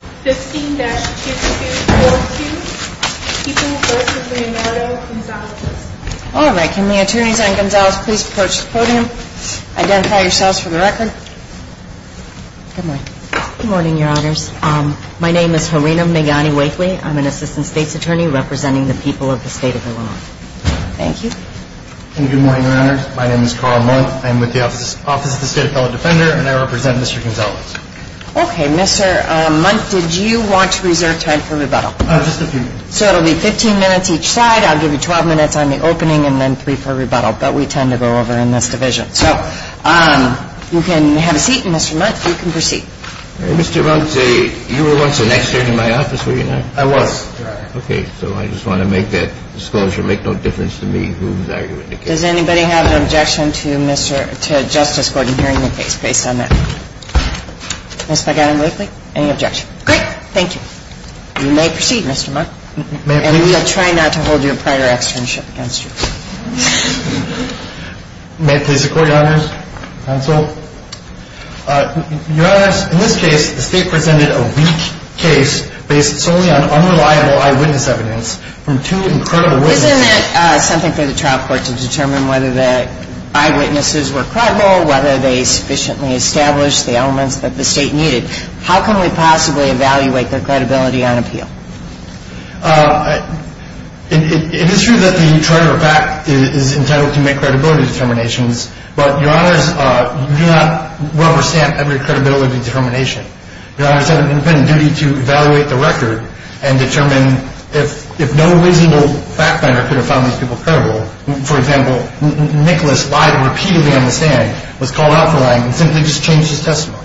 15-2242, people v. Leonardo Gonzalez. All right. Can the attorneys on Gonzalez please approach the podium? Identify yourselves for the record. Good morning. Good morning, your honors. My name is Harina Megani Wakely. I'm an assistant state's attorney representing the people of the state of Illinois. Thank you. Good morning, your honors. My name is Carl Munt. I'm with the Office of the State Appellate Defender, and I represent Mr. Gonzalez. Okay. Mr. Munt, did you want to reserve time for rebuttal? Just a few minutes. So it'll be 15 minutes each side. I'll give you 12 minutes on the opening and then three for rebuttal, but we tend to go over in this division. So you can have a seat, and Mr. Munt, you can proceed. Mr. Munt, you were once an expert in my office, were you not? I was, your honor. Okay. So I just want to make that disclosure. Make no difference to me who's arguing the case. Does anybody have an objection to Justice Gordon hearing the case based on that? Ms. Megani Wakely, any objection? Great. Thank you. You may proceed, Mr. Munt. And we will try not to hold you a prior externship against you. May it please the Court, your honors? Counsel? Your honors, in this case, the State presented a weak case based solely on unreliable eyewitness evidence from two incredible witnesses. Isn't it something for the trial court to determine whether the eyewitnesses were credible, whether they sufficiently established the elements that the State needed? How can we possibly evaluate their credibility on appeal? It is true that the charge of a fact is entitled to make credibility determinations, but, your honors, you do not represent every credibility determination. Your honors have an independent duty to evaluate the record and determine if no reasonable fact finder could have found these people credible. For example, Nicholas lied repeatedly on the stand, was called out for lying, and simply just changed his testimony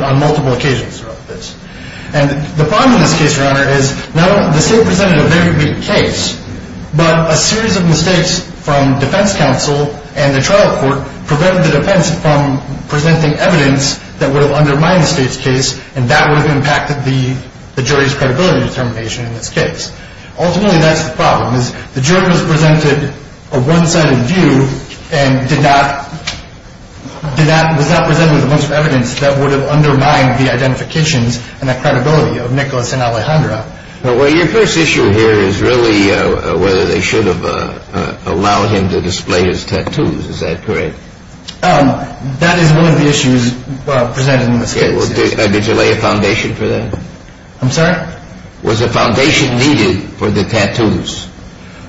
on multiple occasions throughout this. And the problem in this case, your honor, is not only the State presented a very weak case, but a series of mistakes from defense counsel and the trial court prevented the defense from presenting evidence that would have undermined the State's case and that would have impacted the jury's credibility determination in this case. Ultimately, that's the problem, is the jury was presented a one-sided view and was not presented with a bunch of evidence that would have undermined the identifications and the credibility of Nicholas and Alejandra. Well, your first issue here is really whether they should have allowed him to display his tattoos. Is that correct? That is one of the issues presented in this case. Did you lay a foundation for that? I'm sorry? Was a foundation needed for the tattoos?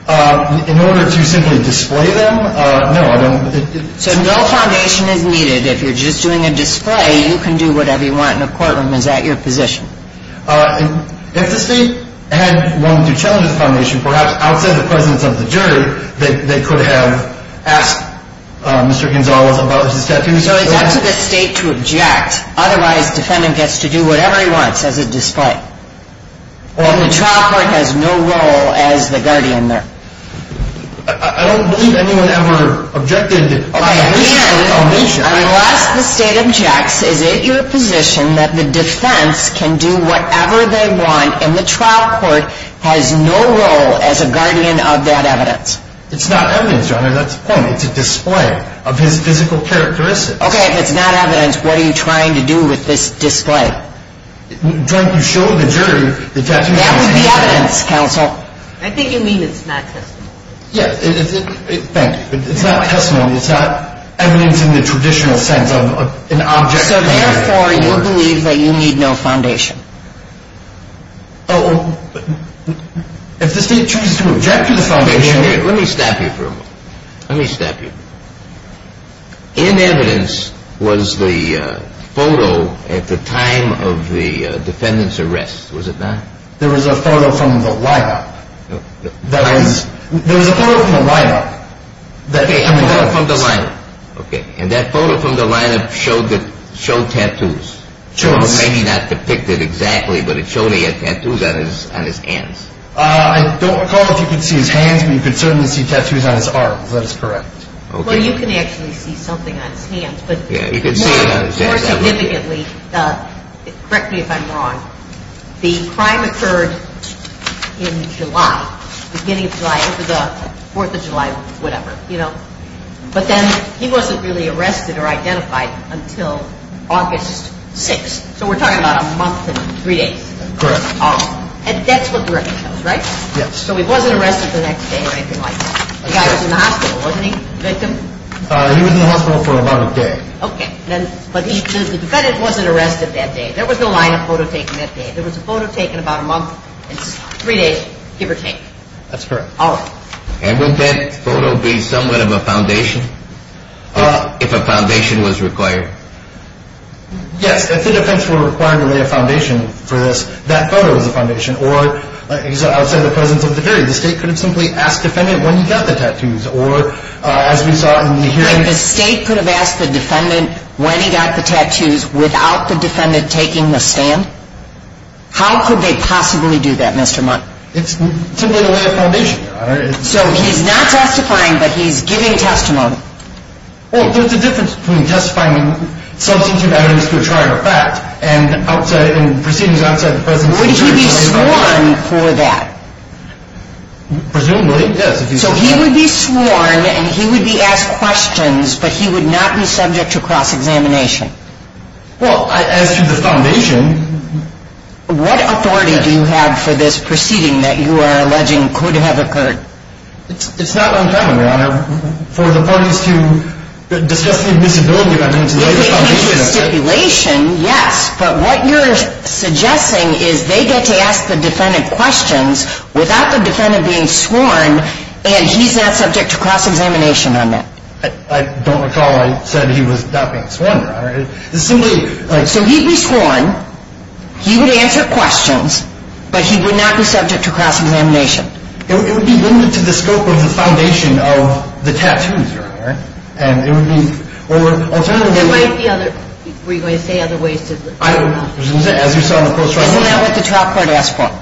In order to simply display them? No. So no foundation is needed. If you're just doing a display, you can do whatever you want in the courtroom. Is that your position? If the State had wanted to challenge the foundation, perhaps outside the presence of the jury, they could have asked Mr. Gonzalez about his tattoos. So it's up to the State to object. Otherwise, the defendant gets to do whatever he wants as a display. And the trial court has no role as the guardian there. I don't believe anyone ever objected. Unless the State objects, is it your position that the defense can do whatever they want and the trial court has no role as a guardian of that evidence? It's not evidence, Your Honor. That's the point. It's a display of his physical characteristics. Okay. If it's not evidence, what are you trying to do with this display? You show the jury the tattoos. That would be evidence, counsel. I think you mean it's not testimony. Yes. Thank you. It's not testimony. It's not evidence in the traditional sense of an object. So therefore, you believe that you need no foundation? Oh, if the State chooses to object to the foundation. Let me stop you for a moment. Let me stop you for a moment. In evidence was the photo at the time of the defendant's arrest, was it not? There was a photo from the lineup. There was a photo from the lineup. Okay, from the lineup. Okay. And that photo from the lineup showed tattoos. Maybe not depicted exactly, but it showed he had tattoos on his hands. I don't recall if you could see his hands, but you could certainly see tattoos on his arms. That is correct. Well, you can actually see something on his hands, but more significantly, correct me if I'm wrong, the crime occurred in July, beginning of July, 4th of July, whatever. But then he wasn't really arrested or identified until August 6th. So we're talking about a month and three days. Correct. And that's what the record shows, right? Yes. So he wasn't arrested the next day or anything like that. The guy was in the hospital, wasn't he, the victim? He was in the hospital for about a day. Okay. But the defendant wasn't arrested that day. There was no lineup photo taken that day. There was a photo taken about a month and three days, give or take. That's correct. All right. And would that photo be somewhat of a foundation if a foundation was required? Yes, if the defense were required to lay a foundation for this, that photo is a foundation. Or, like I said, outside the presence of the jury, the state could have simply asked the defendant when he got the tattoos. Or, as we saw in the hearing – The state could have asked the defendant when he got the tattoos without the defendant taking the stand? How could they possibly do that, Mr. Mundt? It's simply the way of foundation, Your Honor. So he's not testifying, but he's giving testimony. Well, there's a difference between testifying in substantive evidence to a trial or fact and proceedings outside the presence of the jury. Would he be sworn for that? Presumably, yes. So he would be sworn and he would be asked questions, but he would not be subject to cross-examination? Well, as to the foundation – What authority do you have for this proceeding that you are alleging could have occurred? It's not uncommon, Your Honor, for the parties to discuss the admissibility of evidence If it can be a stipulation, yes. But what you're suggesting is they get to ask the defendant questions without the defendant being sworn and he's not subject to cross-examination on that? I don't recall I said he was not being sworn, Your Honor. So he'd be sworn, he would answer questions, but he would not be subject to cross-examination? It would be limited to the scope of the foundation of the tattoos, Your Honor. Were you going to say other ways to – As you saw in the post-trial – Isn't that what the trial court asked for?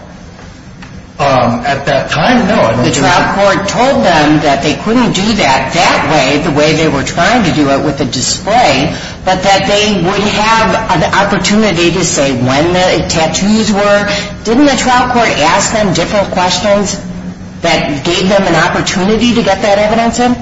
At that time, no. The trial court told them that they couldn't do that that way, the way they were trying to do it with a display, but that they would have an opportunity to say when the tattoos were. Didn't the trial court ask them different questions that gave them an opportunity to get that evidence in?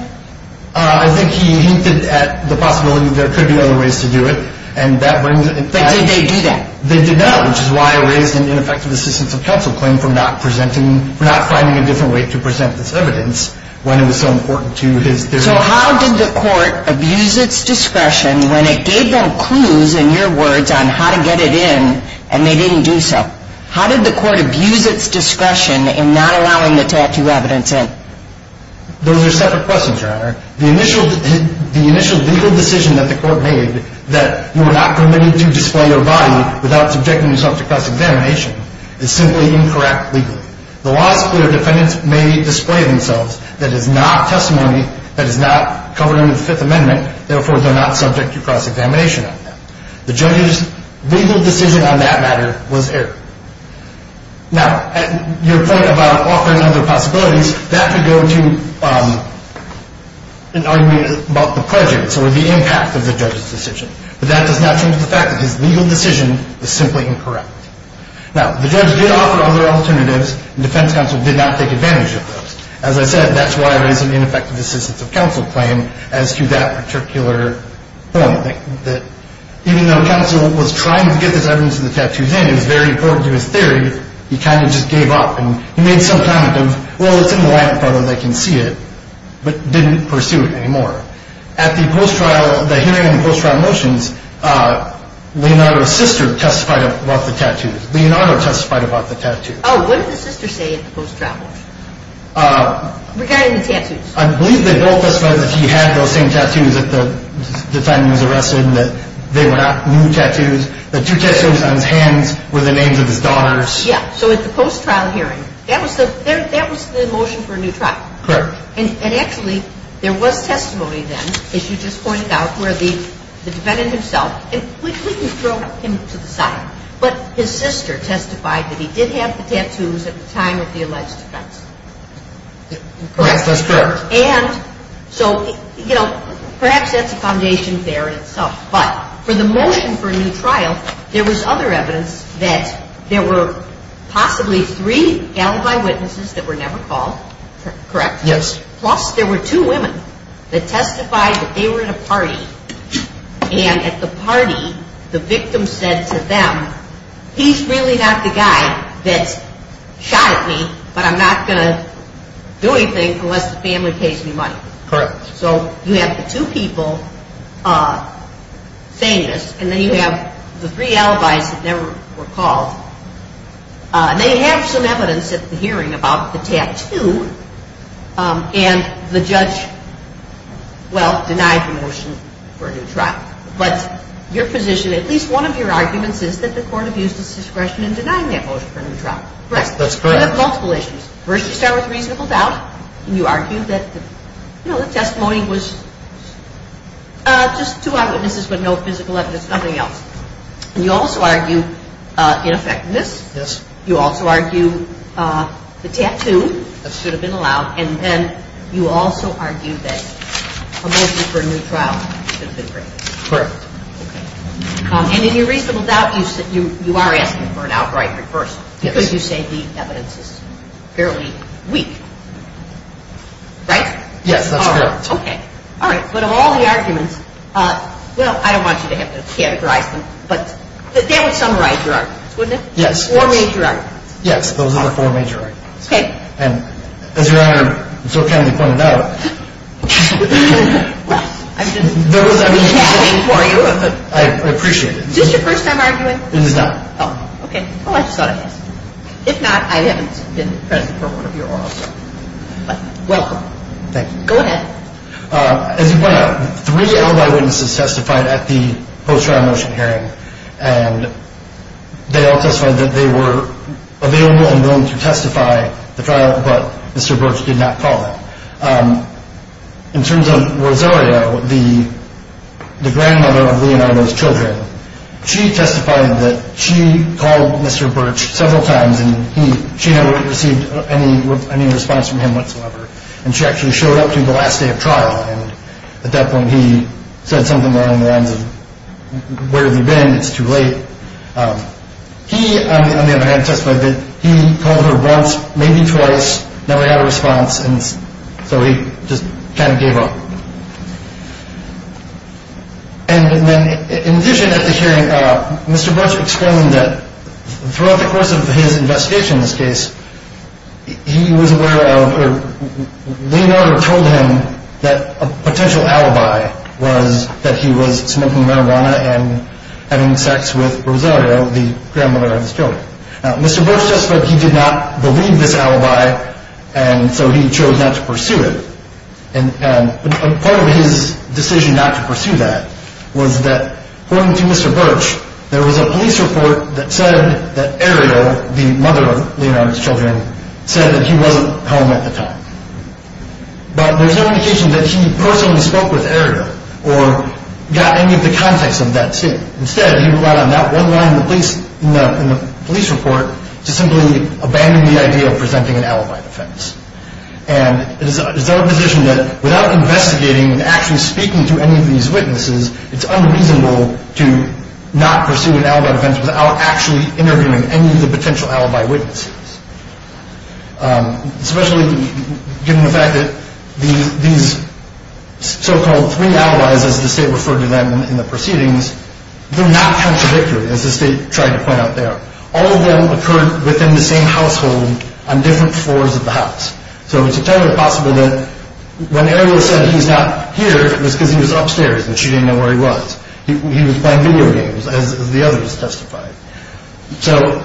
I think he hinted at the possibility there could be other ways to do it, and that brings – But did they do that? They did not, which is why I raised an ineffective assistance of counsel claim for not presenting – for not finding a different way to present this evidence when it was so important to his theory. So how did the court abuse its discretion when it gave them clues, in your words, on how to get it in and they didn't do so? How did the court abuse its discretion in not allowing the tattoo evidence in? Those are separate questions, Your Honor. The initial legal decision that the court made that you were not permitted to display your body without subjecting yourself to cross-examination is simply incorrect legally. The law is clear. Defendants may display themselves. That is not testimony. That is not covering the Fifth Amendment. Therefore, they're not subject to cross-examination on that. The judge's legal decision on that matter was error. Now, your point about offering other possibilities, that could go to an argument about the prejudice or the impact of the judge's decision. But that does not change the fact that his legal decision is simply incorrect. Now, the judge did offer other alternatives, and defense counsel did not take advantage of those. As I said, that's why I raised an ineffective assistance of counsel claim as to that particular point, that even though counsel was trying to get this evidence of the tattoos in, and it was very important to his theory, he kind of just gave up. And he made some comment of, well, it's in the last photo, they can see it, but didn't pursue it anymore. At the hearing on the post-trial motions, Leonardo's sister testified about the tattoos. Leonardo testified about the tattoos. Oh, what did the sister say at the post-trial? Regarding the tattoos. I believe they both testified that he had those same tattoos that the defendant was arrested, and that they were not new tattoos. The two tattoos on his hands were the names of his daughters. Yeah, so at the post-trial hearing, that was the motion for a new trial. Correct. And actually, there was testimony then, as you just pointed out, where the defendant himself, and we didn't throw him to the side, but his sister testified that he did have the tattoos at the time of the alleged offense. Perhaps that's correct. And so, you know, perhaps that's a foundation there in itself. But for the motion for a new trial, there was other evidence that there were possibly three alibi witnesses that were never called, correct? Yes. Plus, there were two women that testified that they were in a party, and at the party, the victim said to them, he's really not the guy that shot at me, but I'm not going to do anything unless the family pays me money. Correct. So you have the two people saying this, and then you have the three alibis that never were called, and then you have some evidence at the hearing about the tattoo, and the judge, well, denied the motion for a new trial. But your position, at least one of your arguments, is that the court abused its discretion in denying that motion for a new trial. Correct. That's correct. You have multiple issues. First, you start with reasonable doubt, and you argue that the testimony was just two eyewitnesses but no physical evidence, nothing else. And you also argue ineffectiveness. Yes. You also argue the tattoo should have been allowed, and then you also argue that a motion for a new trial should have been granted. Correct. And in your reasonable doubt, you are asking for an outright reversal because you say the evidence is fairly weak. Right? Yes, that's correct. Okay. All right. But of all the arguments, well, I don't want you to have to categorize them, but that would summarize your arguments, wouldn't it? Yes. Four major arguments. Yes. Those are the four major arguments. Okay. And as Your Honor so kindly pointed out, I appreciate it. Is this your first time arguing? It is not. Oh, okay. Well, I just thought I'd ask. If not, I haven't been present for one of your oral arguments. Welcome. Thank you. Go ahead. As you pointed out, three alibi witnesses testified at the post-trial motion hearing, and they all testified that they were available and willing to testify the trial, but Mr. Birch did not call it. In terms of Rosario, the grandmother of Leonardo's children, she testified that she called Mr. Birch several times and she never received any response from him whatsoever, and she actually showed up to the last day of trial, and at that point he said something along the lines of, where have you been? It's too late. He, on the other hand, testified that he called her once, maybe twice, never got a response, and so he just kind of gave up. And then in addition at the hearing, Mr. Birch explained that throughout the course of his investigation in this case, he was aware of or Leonardo told him that a potential alibi was that he was smoking marijuana and having sex with Rosario, the grandmother of his children. Now, Mr. Birch testified he did not believe this alibi, and so he chose not to pursue it. And part of his decision not to pursue that was that, according to Mr. Birch, there was a police report that said that Ariel, the mother of Leonardo's children, said that he wasn't home at the time. But there's no indication that he personally spoke with Ariel or got any of the context of that state. Instead, he relied on that one line in the police report to simply abandon the idea of presenting an alibi defense. And it is our position that without investigating and actually speaking to any of these witnesses, it's unreasonable to not pursue an alibi defense without actually interviewing any of the potential alibi witnesses, especially given the fact that these so-called three alibis, as the state referred to them in the proceedings, were not contradictory, as the state tried to point out there. All of them occurred within the same household on different floors of the house. So it's entirely possible that when Ariel said he was not here, it was because he was upstairs and she didn't know where he was. He was playing video games, as the others testified. So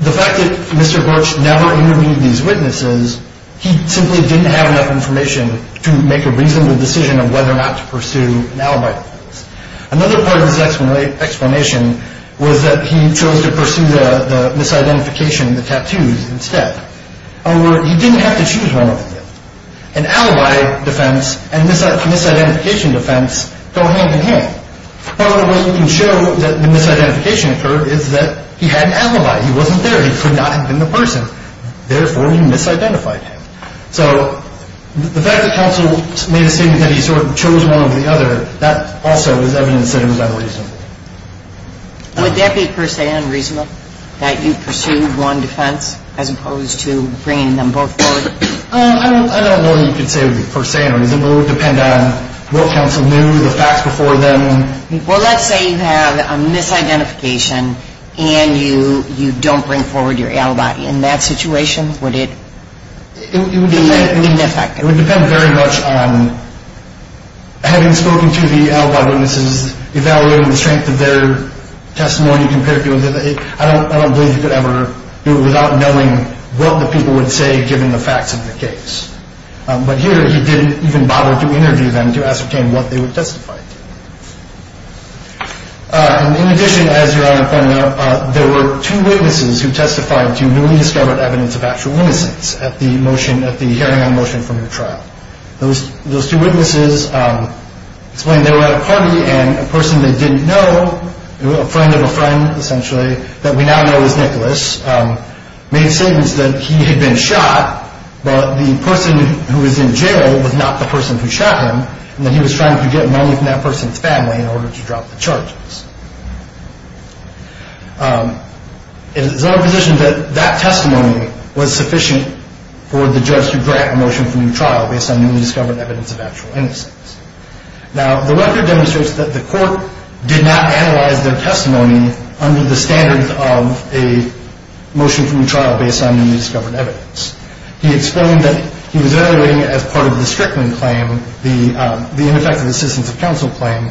the fact that Mr. Birch never interviewed these witnesses, he simply didn't have enough information to make a reasonable decision of whether or not to pursue an alibi defense. Another part of his explanation was that he chose to pursue the misidentification, the tattoos, instead. However, he didn't have to choose one of them. An alibi defense and misidentification defense go hand in hand. Part of the way you can show that the misidentification occurred is that he had an alibi. He wasn't there. He could not have been the person. Therefore, he misidentified him. So the fact that counsel made a statement that he sort of chose one over the other, that also is evidence that it was unreasonable. Would that be per se unreasonable, that you pursued one defense, as opposed to bringing them both forward? I don't know that you could say it would be per se unreasonable. It would depend on what counsel knew, the facts before them. Well, let's say you have a misidentification and you don't bring forward your alibi. In that situation, would it be ineffective? It would depend very much on having spoken to the alibi witnesses, evaluating the strength of their testimony. I don't believe you could ever do it without knowing what the people would say, given the facts of the case. But here, he didn't even bother to interview them to ascertain what they would testify to. In addition, as Your Honor pointed out, there were two witnesses who testified to newly discovered evidence of actual innocence at the hearing on motion from your trial. Those two witnesses explained they were at a party and a person they didn't know, a friend of a friend, essentially, that we now know as Nicholas, made statements that he had been shot, but the person who was in jail was not the person who shot him, and that he was trying to get money from that person's family in order to drop the charges. It is our position that that testimony was sufficient for the judge to grant a motion from your trial based on newly discovered evidence of actual innocence. Now, the record demonstrates that the court did not analyze their testimony under the standards of a motion from your trial based on newly discovered evidence. He explained that he was evaluating it as part of the Strickland claim, the ineffective assistance of counsel claim.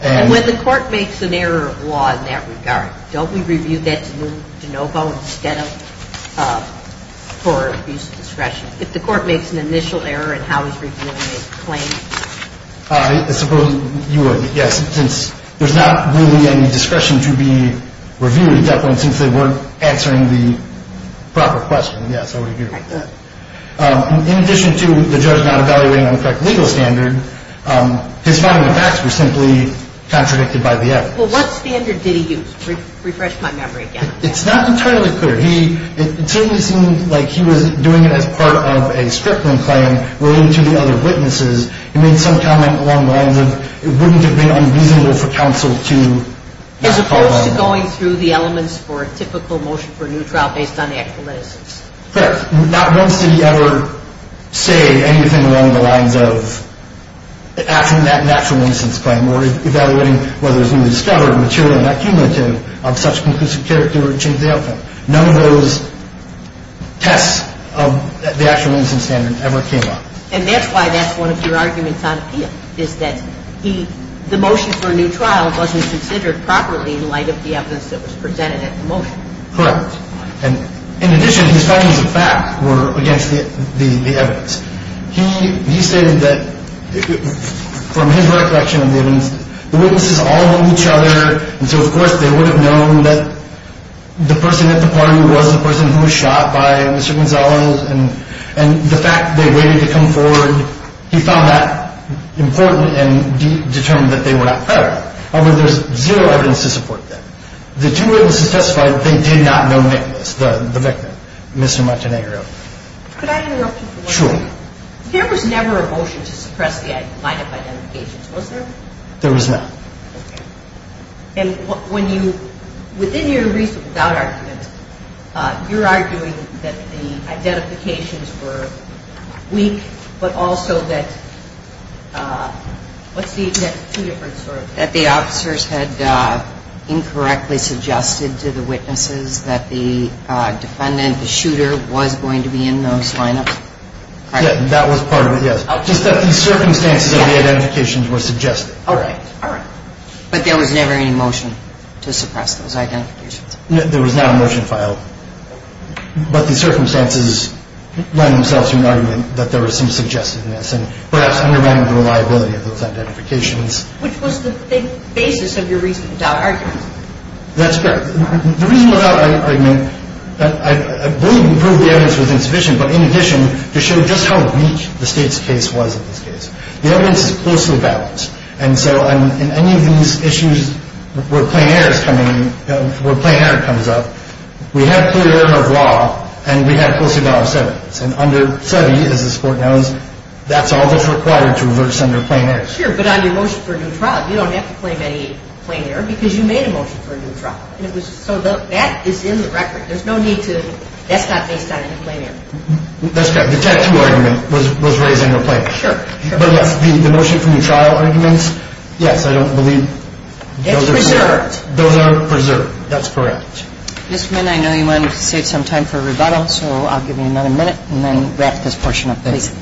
And when the court makes an error of law in that regard, don't we review that to move to NoVo instead of for abuse of discretion? If the court makes an initial error in how he's reviewing his claim? I suppose you would, yes, since there's not really any discretion to be reviewed at that point since they weren't answering the proper question. Yes, I would agree with that. In addition to the judge not evaluating on the correct legal standard, his final attacks were simply contradicted by the evidence. Well, what standard did he use? Refresh my memory again. It's not entirely clear. It certainly seemed like he was doing it as part of a Strickland claim related to the other witnesses. He made some comment along the lines of it wouldn't have been unreasonable for counsel to not call on him. As opposed to going through the elements for a typical motion for a new trial based on actual innocence. Correct. Not once did he ever say anything along the lines of asking that natural innocence claim or evaluating whether it was newly discovered material and not cumulative of such conclusive character or changed the outcome. None of those tests of the actual innocence standard ever came up. And that's why that's one of your arguments on appeal is that the motion for a new trial wasn't considered properly in light of the evidence that was presented at the motion. Correct. And in addition, his findings of fact were against the evidence. He stated that from his recollection of the evidence, the witnesses all know each other, and so of course they would have known that the person at the party was the person who was shot by Mr. Gonzales. And the fact they waited to come forward, he found that important and determined that they were not fair. However, there's zero evidence to support that. The two witnesses testified that they did not know Nicholas, the victim, Mr. Montenegro. Could I interrupt you for one moment? Sure. There was never a motion to suppress the line of identification. Was there? There was not. Okay. And when you – within your reasonable doubt argument, you're arguing that the identifications were weak, but also that – what's the next two different sort of – that the officers had incorrectly suggested to the witnesses that the defendant, the shooter, was going to be in those lineups? That was part of it, yes. Just that the circumstances of the identifications were suggested. Okay. All right. But there was never any motion to suppress those identifications? There was not a motion filed. But the circumstances lend themselves to an argument that there was some suggestiveness and perhaps unreliability of those identifications. Which was the basis of your reasonable doubt argument. That's correct. The reasonable doubt argument, I believe, proved the evidence was insufficient, but in addition to show just how weak the State's case was in this case. The evidence is closely balanced. And so in any of these issues where plein air is coming – where plein air comes up, we have clear order of law and we have closely balanced evidence. And under SEBI, as this Court knows, that's all that's required to reverse under plein air. Sure, but on your motion for a new trial, you don't have to claim any plein air because you made a motion for a new trial. And it was – so that is in the record. There's no need to – that's not based on any plein air. That's correct. The tattoo argument was raised under plein air. Sure, sure. But the motion for new trial arguments, yes, I don't believe those are – It's preserved. Those are preserved. That's correct. Mr. Minn, I know you wanted to save some time for rebuttal, so I'll give you another minute and then wrap this portion up, please.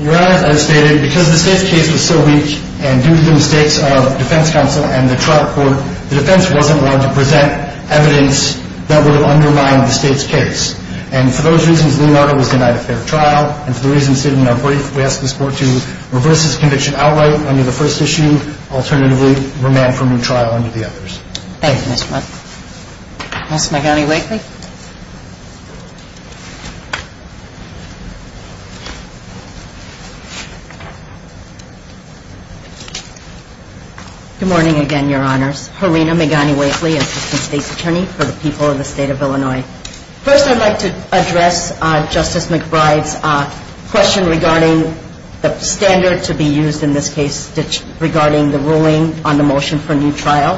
Your Honor, as stated, because the State's case was so weak and due to the mistakes of defense counsel and the trial court, the defense wasn't allowed to present evidence that would have undermined the State's case. And for those reasons, Leonardo was denied a fair trial. And for the reasons stated in our brief, we ask this Court to reverse this conviction outright under the first issue. Alternatively, remand for a new trial under the others. Thank you, Mr. Munn. Ms. McGonigal-Wakeley. Good morning again, Your Honors. Harina McGonigal-Wakeley, Assistant State's Attorney for the people of the State of Illinois. First, I'd like to address Justice McBride's question regarding the standard to be used in this case regarding the ruling on the motion for new trial.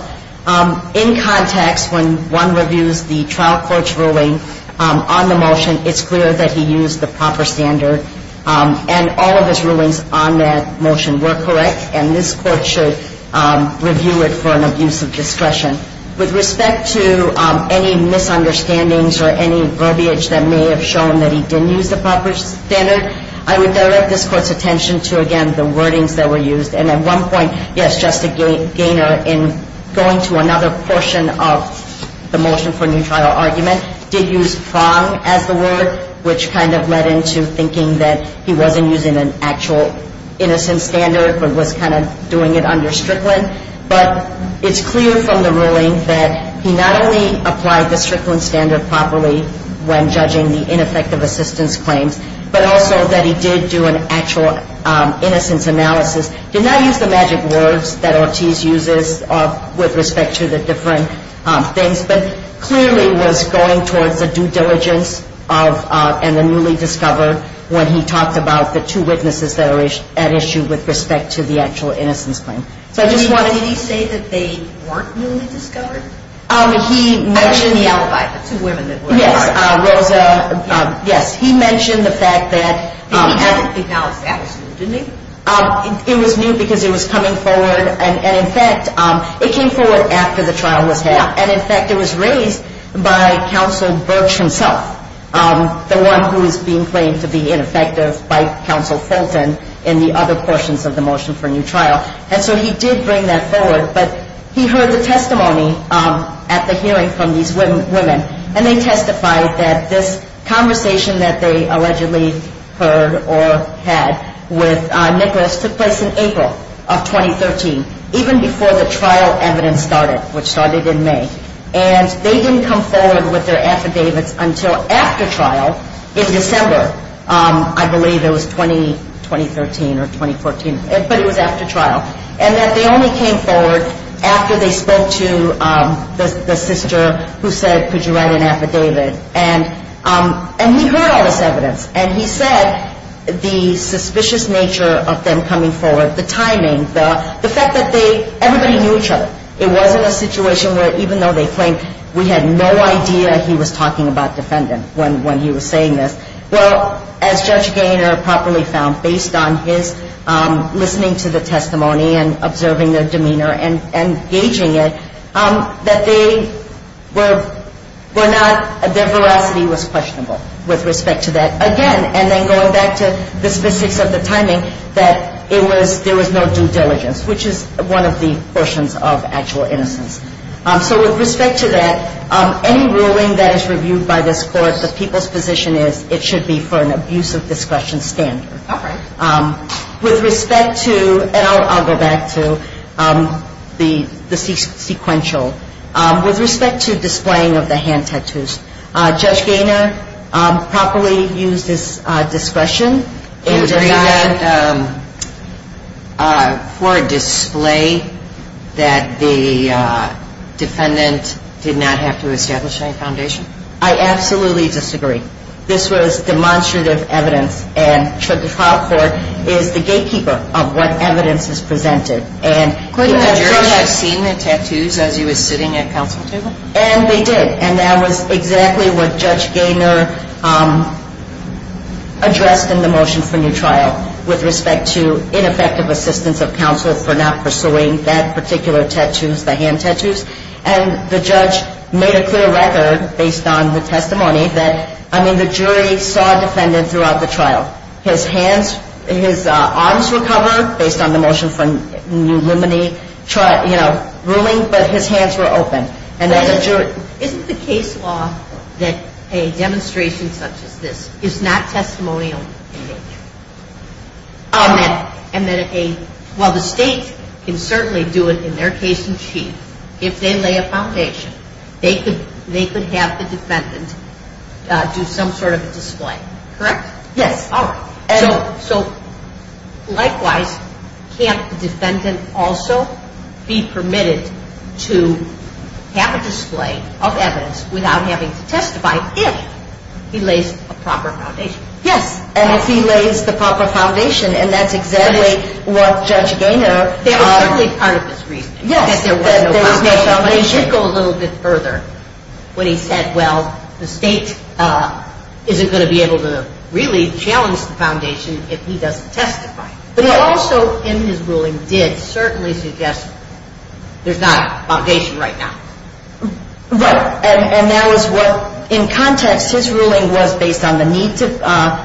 In context, when one reviews the trial court's ruling on the motion, it's clear that he used the proper standard. And all of his rulings on that motion were correct, and this Court should review it for an abuse of discretion. With respect to any misunderstandings or any verbiage that may have shown that he didn't use the proper standard, I would direct this Court's attention to, again, the wordings that were used. And at one point, yes, Justice Gaynor, in going to another portion of the motion for new trial argument, did use prong as the word, which kind of led into thinking that he wasn't using an actual innocent standard but was kind of doing it under Strickland. But it's clear from the ruling that he not only applied the Strickland standard properly when judging the ineffective assistance claims, but also that he did do an actual innocence analysis. He did not use the magic words that Ortiz uses with respect to the different things, but clearly was going towards the due diligence and the newly discovered when he talked about the two witnesses that are at issue with respect to the actual innocence claim. So I just wanted to... Did he say that they weren't newly discovered? He mentioned... I mean, the alibi, the two women that were at issue. Yes, Rosa, yes. He mentioned the fact that... He didn't acknowledge the absolute, didn't he? It was new because it was coming forward. And, in fact, it came forward after the trial was held. And, in fact, it was raised by Counsel Birch himself, the one who is being claimed to be ineffective by Counsel Fulton in the other portions of the motion for new trial. And so he did bring that forward. But he heard the testimony at the hearing from these women. And they testified that this conversation that they allegedly heard or had with Nicholas took place in April of 2013, even before the trial evidence started, which started in May. And they didn't come forward with their affidavits until after trial in December. I believe it was 2013 or 2014, but it was after trial. And that they only came forward after they spoke to the sister who said, could you write an affidavit? And he heard all this evidence. And he said the suspicious nature of them coming forward, the timing, the fact that everybody knew each other. It wasn't a situation where even though they claimed, we had no idea he was talking about defendant when he was saying this. Well, as Judge Gaynor properly found, based on his listening to the testimony and observing their demeanor and gauging it, that they were not, their veracity was questionable with respect to that. Again, and then going back to the specifics of the timing, that there was no due diligence, which is one of the portions of actual innocence. So with respect to that, any ruling that is reviewed by this Court, what the people's position is, it should be for an abuse of discretion standard. Okay. With respect to, and I'll go back to the sequential. With respect to displaying of the hand tattoos, Judge Gaynor properly used his discretion. Did you agree that for display that the defendant did not have to establish any foundation? I absolutely disagree. This was demonstrative evidence, and the trial court is the gatekeeper of what evidence is presented. Could the jurors have seen the tattoos as he was sitting at counsel table? And they did. And that was exactly what Judge Gaynor addressed in the motion for new trial with respect to ineffective assistance of counsel for not pursuing that particular tattoos, the hand tattoos. And the judge made a clear record based on the testimony that, I mean, the jury saw a defendant throughout the trial. His hands, his arms were covered based on the motion for new limine trial, you know, ruling, but his hands were open. Isn't the case law that a demonstration such as this is not testimonial in nature? And then while the state can certainly do it in their case in chief, if they lay a foundation, they could have the defendant do some sort of a display, correct? Yes. All right. So likewise, can't the defendant also be permitted to have a display of evidence without having to testify if he lays a proper foundation? Yes. And if he lays the proper foundation, and that's exactly what Judge Gaynor- That was certainly part of his reasoning. Yes. That there was no foundation. But he did go a little bit further when he said, well, the state isn't going to be able to really challenge the foundation if he doesn't testify. But he also, in his ruling, did certainly suggest there's not a foundation right now. Right. And that was what, in context, his ruling was based on the need to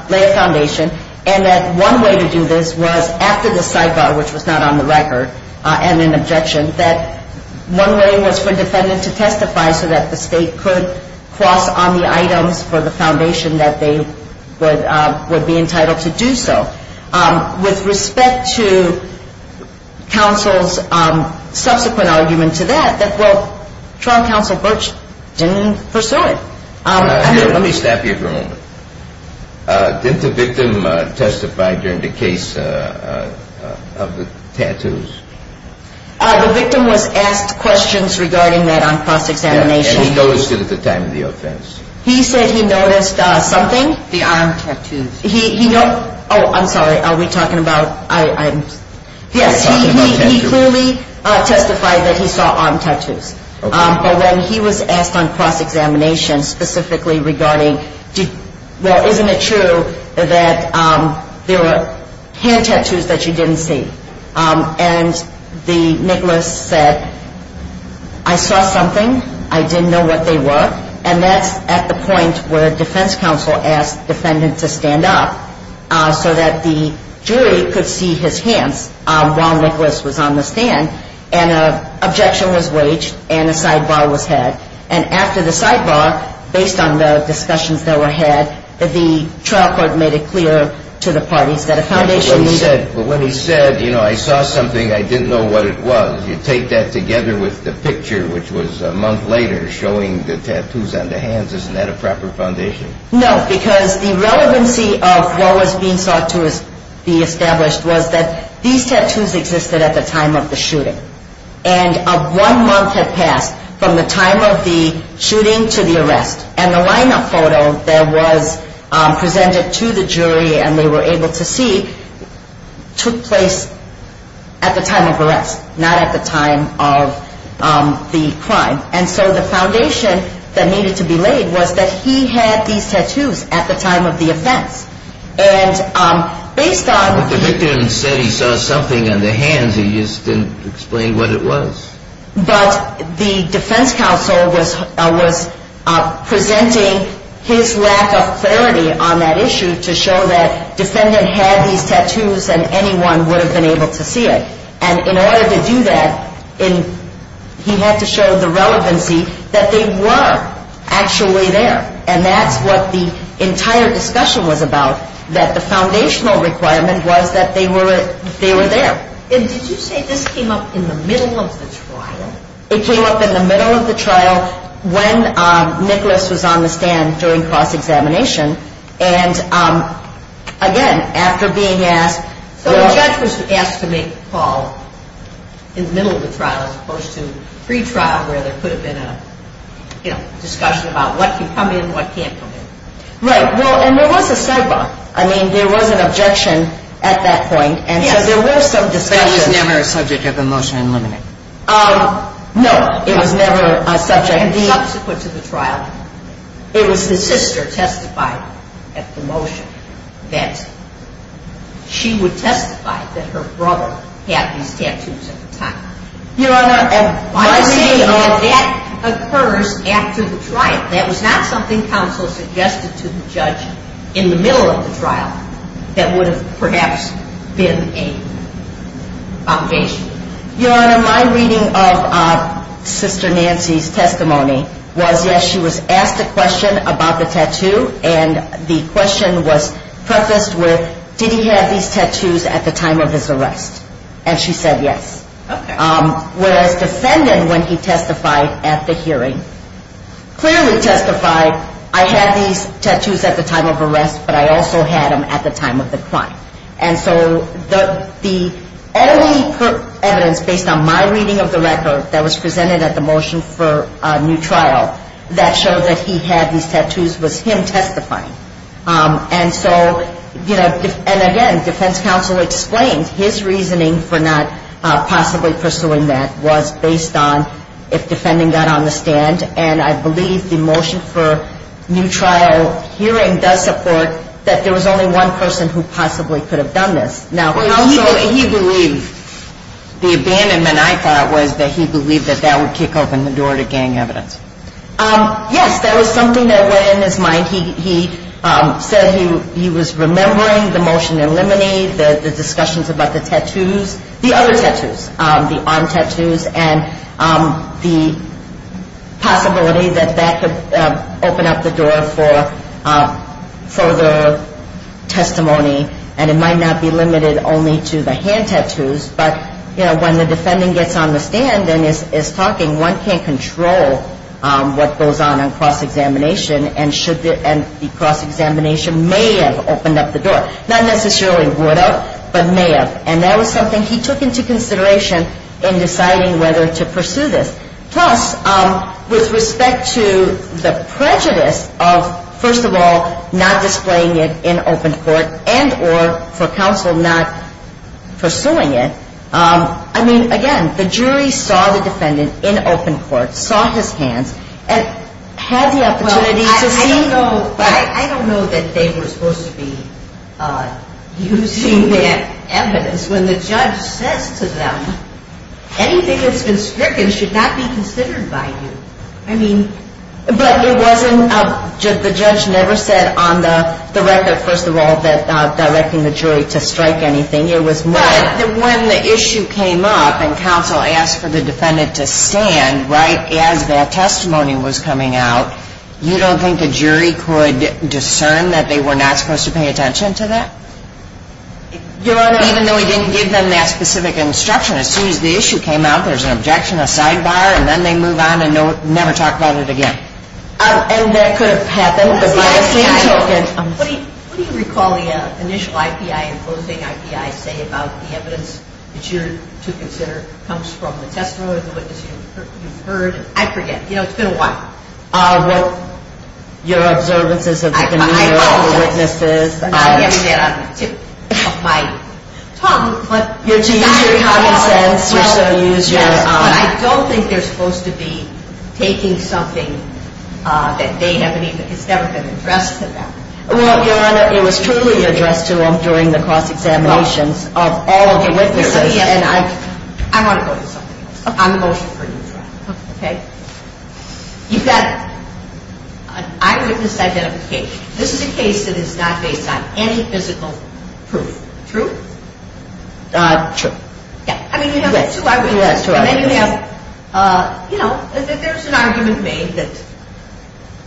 lay a foundation, and that one way to do this was after the sidebar, which was not on the record, and an objection, that one way was for a defendant to testify so that the state could cross on the items for the foundation that they would be entitled to do so. I'm going to stop here for a moment. Didn't the victim testify during the case of the tattoos? The victim was asked questions regarding that on cross-examination. And he noticed it at the time of the offense. He said he noticed something. The arm tattoos. The arm tattoos. Yes. I'm sorry. Are we talking about items? Yes. He clearly testified that he saw arm tattoos. But when he was asked on cross-examination specifically regarding, well, isn't it true that there were hand tattoos that you didn't see? And Nicholas said, I saw something. I didn't know what they were. And that's at the point where a defense counsel asked the defendant to stand up so that the jury could see his hands while Nicholas was on the stand, and an objection was waged and a sidebar was had. And after the sidebar, based on the discussions that were had, the trial court made it clear to the parties that a foundation needed to. But when he said, you know, I saw something, I didn't know what it was, you take that together with the picture, which was a month later showing the tattoos on the hands. Isn't that a proper foundation? No, because the relevancy of what was being sought to be established was that these tattoos existed at the time of the shooting. And one month had passed from the time of the shooting to the arrest. And the lineup photo that was presented to the jury and they were able to see took place at the time of arrest, not at the time of the crime. And so the foundation that needed to be laid was that he had these tattoos at the time of the offense. And based on. But the victim said he saw something on the hands. He just didn't explain what it was. But the defense counsel was presenting his lack of clarity on that issue to show that defendant had these tattoos and anyone would have been able to see it. And in order to do that, he had to show the relevancy that they were actually there. And that's what the entire discussion was about, that the foundational requirement was that they were there. And did you say this came up in the middle of the trial? It came up in the middle of the trial when Nicholas was on the stand during cross-examination. And, again, after being asked. So the judge was asked to make the call in the middle of the trial as opposed to pre-trial where there could have been a discussion about what can come in, what can't come in. Right. Well, and there was a sidebar. I mean, there was an objection at that point. And so there were some discussions. But it was never a subject of the motion in limine. No, it was never a subject. And the subsequent to the trial, it was the sister testifying at the motion that she would testify that her brother had these tattoos at the time. Your Honor, by the way, that occurs after the trial. That was not something counsel suggested to the judge in the middle of the trial that would have perhaps been a foundation. Your Honor, my reading of Sister Nancy's testimony was, yes, she was asked a question about the tattoo. And the question was prefaced with, did he have these tattoos at the time of his arrest? And she said yes. Okay. Whereas defendant, when he testified at the hearing, clearly testified I had these tattoos at the time of arrest, but I also had them at the time of the crime. And so the only evidence based on my reading of the record that was presented at the motion for new trial that showed that he had these tattoos was him testifying. And so, you know, and again, defense counsel explained his reasoning for not possibly pursuing that was based on if defending got on the stand. And I believe the motion for new trial hearing does support that there was only one person who possibly could have done this. He believed the abandonment, I thought, was that he believed that that would kick open the door to gang evidence. Yes, that was something that went in his mind. He said he was remembering the motion in limine, the discussions about the tattoos, the other tattoos, the arm tattoos, and the possibility that that could open up the door for further testimony. And it might not be limited only to the hand tattoos. But, you know, when the defending gets on the stand and is talking, one can't control what goes on in cross-examination and the cross-examination may have opened up the door. Not necessarily would have, but may have. And that was something he took into consideration in deciding whether to pursue this. Plus, with respect to the prejudice of, first of all, not displaying it in open court and or for counsel not pursuing it, I mean, again, the jury saw the defendant in open court, saw his hands, and had the opportunity to see. I don't know that they were supposed to be using that evidence when the judge says to them, anything that's been stricken should not be considered by you. I mean... But it wasn't, the judge never said on the record, first of all, that directing the jury to strike anything, it was more... But when the issue came up and counsel asked for the defendant to stand right as that testimony was coming out, you don't think the jury could discern that they were not supposed to pay attention to that? Your Honor... Even though he didn't give them that specific instruction. As soon as the issue came out, there's an objection, a sidebar, and then they move on and never talk about it again. And that could have happened, but by the same token... What do you recall the initial IPI and closing IPI say about the evidence that you're to consider comes from the testimony or the witness you've heard? I forget. It's been a while. Your observances of the witnesses... I know. I haven't said it on the tip of my tongue, but... You're to use your common sense, you're to use your... But I don't think they're supposed to be taking something that they haven't even... It's never been addressed to them. Well, Your Honor, it was truly addressed to them during the cross-examinations of all of the witnesses, and I... I want to go to something else. Okay. I'm emotional for you. Okay. You've got an eyewitness identification. This is a case that is not based on any physical proof. True? True. Yeah. I mean, you have two eyewitnesses. You have two eyewitnesses. And then you have... You know, there's an argument made that...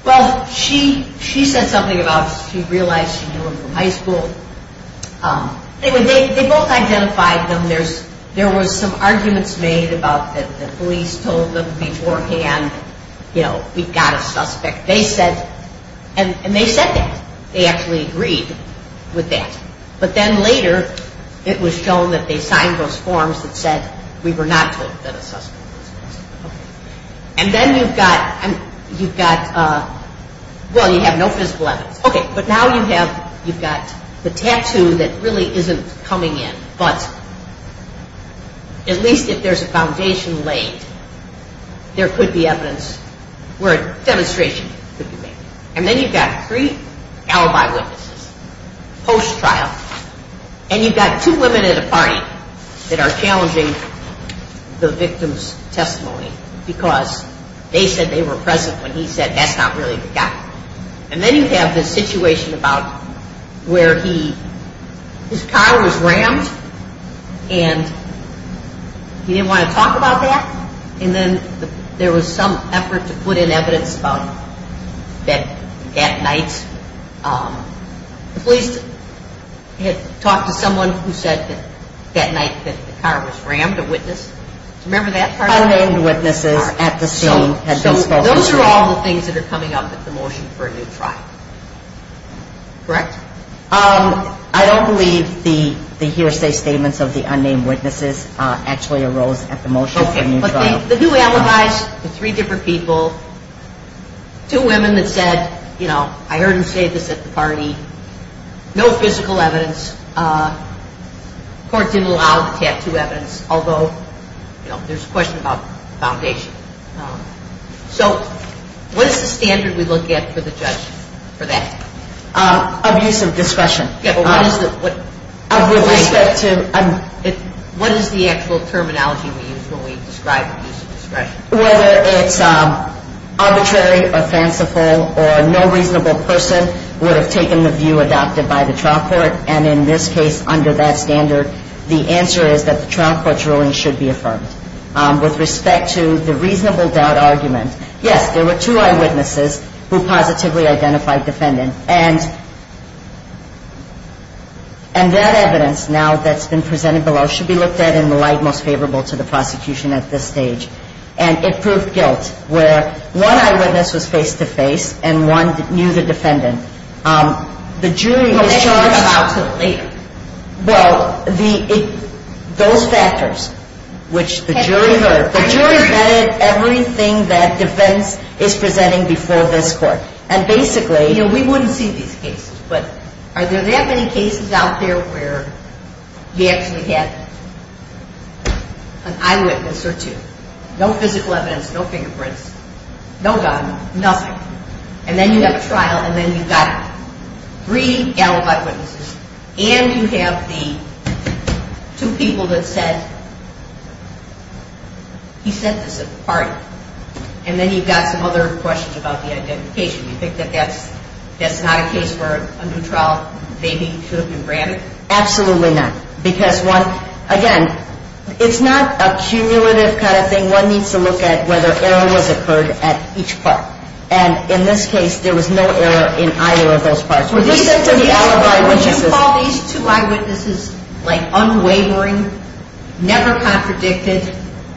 Well, she said something about she realized she knew him from high school. They both identified them. And there was some arguments made about the police told them beforehand, you know, we've got a suspect. They said... And they said that. They actually agreed with that. But then later, it was shown that they signed those forms that said we were not told that a suspect was a suspect. And then you've got... You've got... Well, you have no physical evidence. Okay. But now you have... You've got the tattoo that really isn't coming in. But at least if there's a foundation laid, there could be evidence where a demonstration could be made. And then you've got three alibi witnesses post-trial. And you've got two women at a party that are challenging the victim's testimony because they said they were present when he said that's not really the guy. And then you have this situation about where his car was rammed and he didn't want to talk about that. And then there was some effort to put in evidence about that night. The police had talked to someone who said that night that the car was rammed, a witness. Do you remember that part? Unnamed witnesses at the scene had been spoken to. Those are all the things that are coming up at the motion for a new trial. Correct? I don't believe the hearsay statements of the unnamed witnesses actually arose at the motion for a new trial. Okay. But the two alibis, the three different people, two women that said, you know, I heard him say this at the party, no physical evidence. The court didn't allow the tattoo evidence, although there's a question about foundation. So what is the standard we look at for the judge for that? Abuse of discretion. What is the actual terminology we use when we describe abuse of discretion? Whether it's arbitrary or fanciful or no reasonable person would have taken the view adopted by the trial court. And in this case, under that standard, the answer is that the trial court's ruling should be affirmed. With respect to the reasonable doubt argument, yes, there were two eyewitnesses who positively identified defendant. And that evidence, now that's been presented below, should be looked at in the light most favorable to the prosecution at this stage. And it proved guilt where one eyewitness was face-to-face and one knew the defendant. The jury was charged. We'll get to that later. Well, those factors, which the jury heard, the jury vetted everything that defense is presenting before this court. And basically, you know, we wouldn't see these cases, but are there that many cases out there where you actually have an eyewitness or two? No physical evidence, no fingerprints, no gun, nothing. And then you have a trial, and then you've got three alibi witnesses and you have the two people that said he said this at the party. And then you've got some other questions about the identification. You think that that's not a case where a new trial maybe should have been granted? Absolutely not. Because, again, it's not a cumulative kind of thing. One needs to look at whether error has occurred at each part. And in this case, there was no error in either of those parts. Would you call these two eyewitnesses, like, unwavering, never contradicted,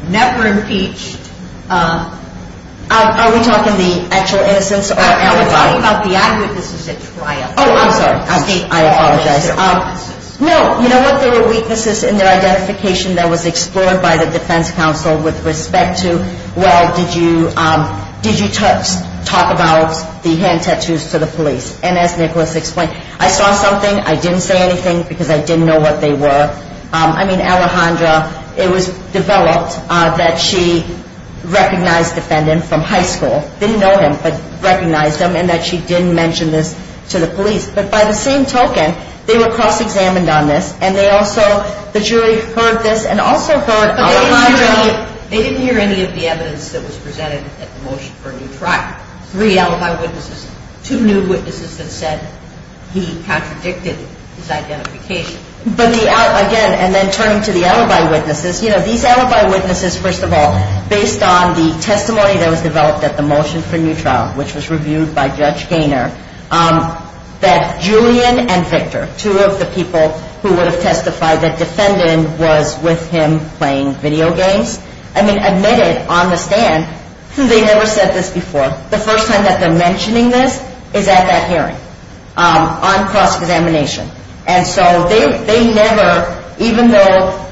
never impeached? Are we talking the actual innocence or alibi? We're talking about the eyewitnesses at trial. Oh, I'm sorry. I apologize. No, you know what? There were weaknesses in their identification that was explored by the defense counsel with respect to, well, did you talk about the hand tattoos to the police? And as Nicholas explained, I saw something. I didn't say anything because I didn't know what they were. I mean, Alejandra, it was developed that she recognized the defendant from high school, didn't know him, but recognized him, and that she didn't mention this to the police. But by the same token, they were cross-examined on this, and they also, the jury heard this and also heard Alejandra. They didn't hear any of the evidence that was presented at the motion for a new trial. We have three alibi witnesses, two new witnesses that said he contradicted his identification. But again, and then turning to the alibi witnesses, you know, these alibi witnesses, first of all, based on the testimony that was developed at the motion for a new trial, which was reviewed by Judge Gaynor, that Julian and Victor, two of the people who would have testified that the defendant was with him playing video games, I mean, admitted on the stand, they never said this before. The first time that they're mentioning this is at that hearing on cross-examination. And so they never, even though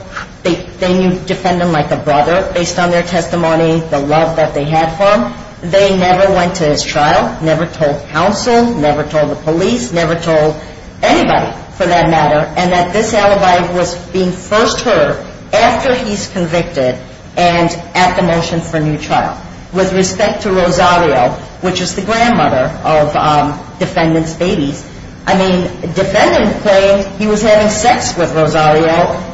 they knew the defendant like a brother, based on their testimony, the love that they had for him, they never went to his trial, never told counsel, never told the police, never told anybody for that matter, and that this alibi was being first heard after he's convicted and at the motion for a new trial. With respect to Rosario, which is the grandmother of defendant's babies, I mean, the defendant claimed he was having sex with Rosario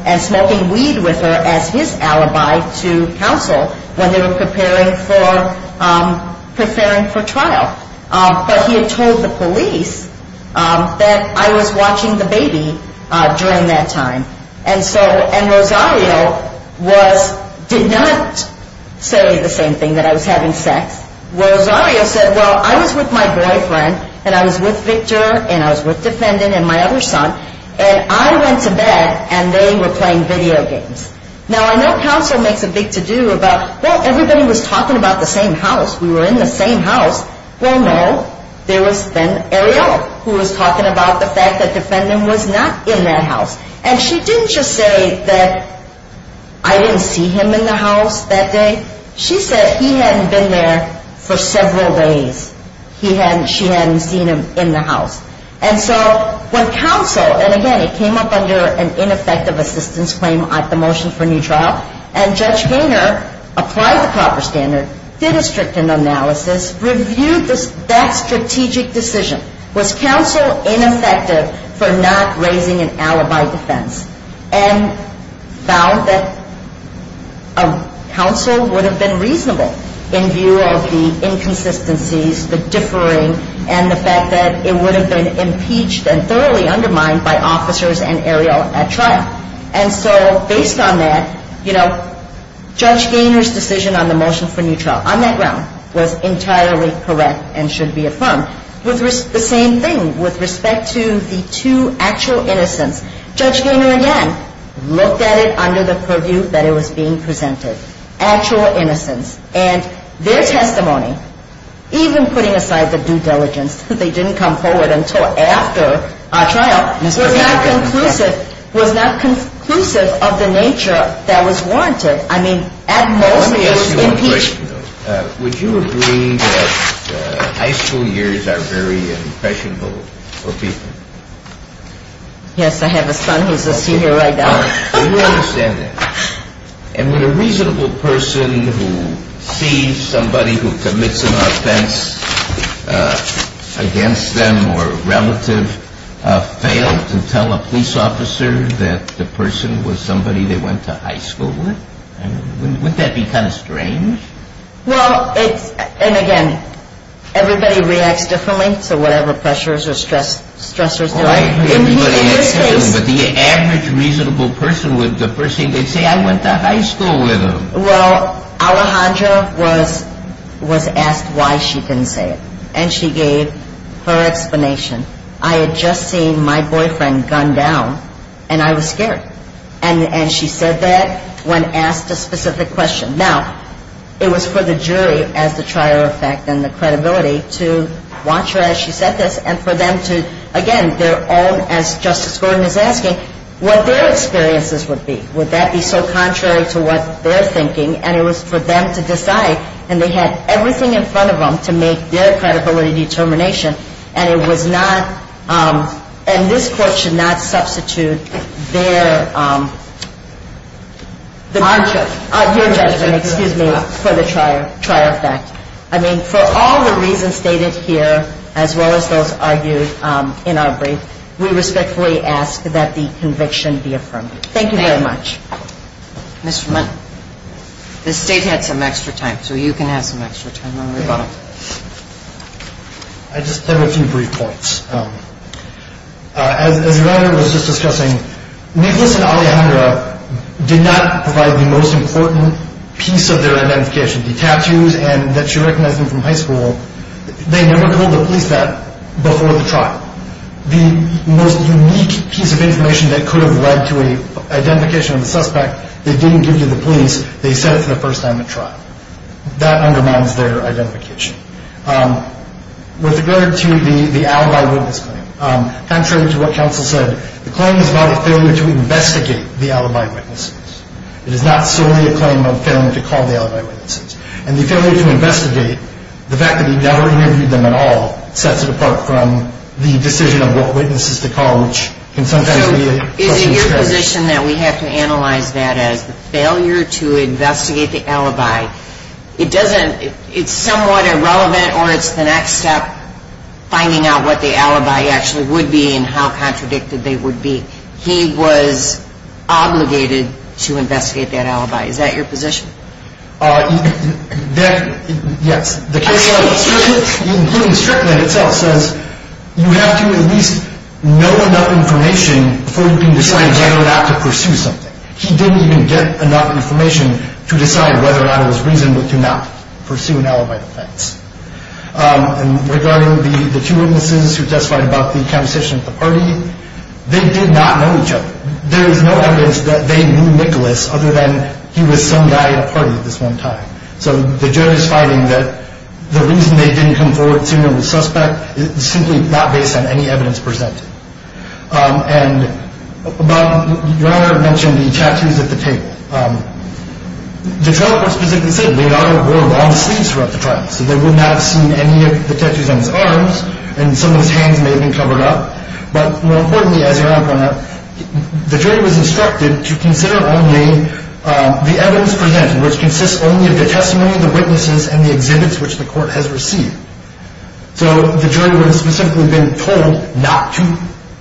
and smoking weed with her as his alibi to counsel when they were preparing for trial. But he had told the police that I was watching the baby during that time. And Rosario did not say the same thing, that I was having sex. Rosario said, well, I was with my boyfriend, and I was with Victor, and I was with defendant and my other son, and I went to bed and they were playing video games. Now, I know counsel makes a big to-do about, well, everybody was talking about the same house. We were in the same house. Well, no, there was then Ariel who was talking about the fact that defendant was not in that house. And she didn't just say that I didn't see him in the house that day. She said he hadn't been there for several days. She hadn't seen him in the house. And so when counsel, and again, it came up under an ineffective assistance claim at the motion for a new trial, and Judge Gaynor applied the proper standard, did a strict analysis, reviewed that strategic decision. Was counsel ineffective for not raising an alibi defense? And found that counsel would have been reasonable in view of the inconsistencies, the differing, and the fact that it would have been impeached and thoroughly undermined by officers and Ariel at trial. And so based on that, you know, Judge Gaynor's decision on the motion for new trial, on that ground, was entirely correct and should be affirmed. The same thing with respect to the two actual innocents. Judge Gaynor, again, looked at it under the purview that it was being presented, actual innocents. And their testimony, even putting aside the due diligence that they didn't come forward until after our trial, was not conclusive. Was not conclusive of the nature that was warranted. I mean, at most it was impeached. Let me ask you one question, though. Would you agree that high school years are very impressionable for people? Yes, I have a son who's a senior right now. We understand that. And would a reasonable person who sees somebody who commits an offense against them or relative fail to tell a police officer that the person was somebody they went to high school with? Wouldn't that be kind of strange? Well, it's, and again, everybody reacts differently to whatever pressures or stressors there are. But the average reasonable person would say, I went to high school with him. Well, Alejandra was asked why she didn't say it. And she gave her explanation. I had just seen my boyfriend gunned down, and I was scared. And she said that when asked a specific question. Now, it was for the jury as the trier of fact and the credibility to watch her as she said this and for them to, again, their own, as Justice Gordon is asking, what their experiences would be. Would that be so contrary to what they're thinking? And it was for them to decide. And they had everything in front of them to make their credibility determination. And it was not, and this Court should not substitute their judgment for the trier of fact. I mean, for all the reasons stated here, as well as those argued in our brief, we respectfully ask that the conviction be affirmed. Thank you very much. Ms. Fremont, the State had some extra time, so you can have some extra time on the rebuttal. I just have a few brief points. As your Honor was just discussing, Nicholas and Alejandra did not provide the most important piece of their identification. The tattoos and that she recognized them from high school, they never told the police that before the trial. The most unique piece of information that could have led to an identification of the suspect, they didn't give to the police. They said it for the first time at trial. That undermines their identification. With regard to the alibi witness claim, contrary to what counsel said, the claim is about a failure to investigate the alibi witnesses. It is not solely a claim of failing to call the alibi witnesses. And the failure to investigate, the fact that he never interviewed them at all, sets it apart from the decision of what witnesses to call, which can sometimes be a question of character. So is it your position that we have to analyze that as the failure to investigate the alibi? It's somewhat irrelevant, or it's the next step, finding out what the alibi actually would be and how contradicted they would be. And he was obligated to investigate that alibi. Is that your position? Yes. The case law, including Strickland itself, says you have to at least know enough information before you can decide whether or not to pursue something. He didn't even get enough information to decide whether or not it was reasonable to not pursue an alibi defense. And regarding the two witnesses who testified about the composition of the party, they did not know each other. There is no evidence that they knew Nicholas other than he was some guy at a party at this one time. So the jury's finding that the reason they didn't come forward sooner with suspect is simply not based on any evidence presented. And your Honor mentioned the tattoos at the table. The trial court specifically said Leonardo wore long sleeves throughout the trial, so they would not have seen any of the tattoos on his arms, and some of his hands may have been covered up. But more importantly, as your Honor pointed out, the jury was instructed to consider only the evidence presented, which consists only of the testimony of the witnesses and the exhibits which the court has received. So the jury would have specifically been told not to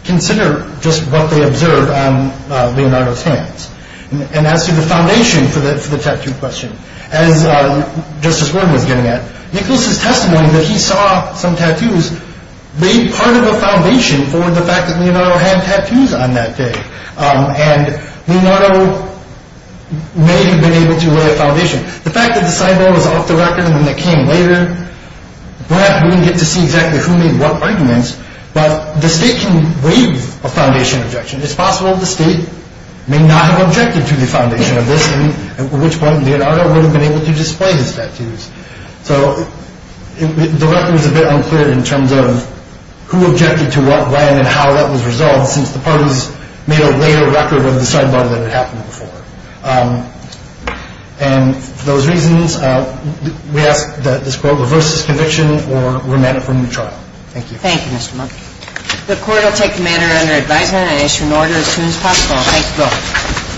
consider just what they observed on Leonardo's hands. And as to the foundation for the tattoo question, as Justice Gordon was getting at, Nicholas's testimony that he saw some tattoos made part of a foundation for the fact that Leonardo had tattoos on that day. And Leonardo may have been able to lay a foundation. The fact that the cyborg was off the record when it came later, we're not going to get to see exactly who made what arguments, but the state can waive a foundation objection. It's possible the state may not have objected to the foundation of this, at which point Leonardo wouldn't have been able to display his tattoos. So the record is a bit unclear in terms of who objected to what, when, and how that was resolved, since the parties made a later record of the cyborg that had happened before. And for those reasons, we ask that this court reverse this conviction or remand it for a new trial. Thank you. Thank you, Mr. Monkey. The court will take the matter under advisement and issue an order as soon as possible. Thank you both.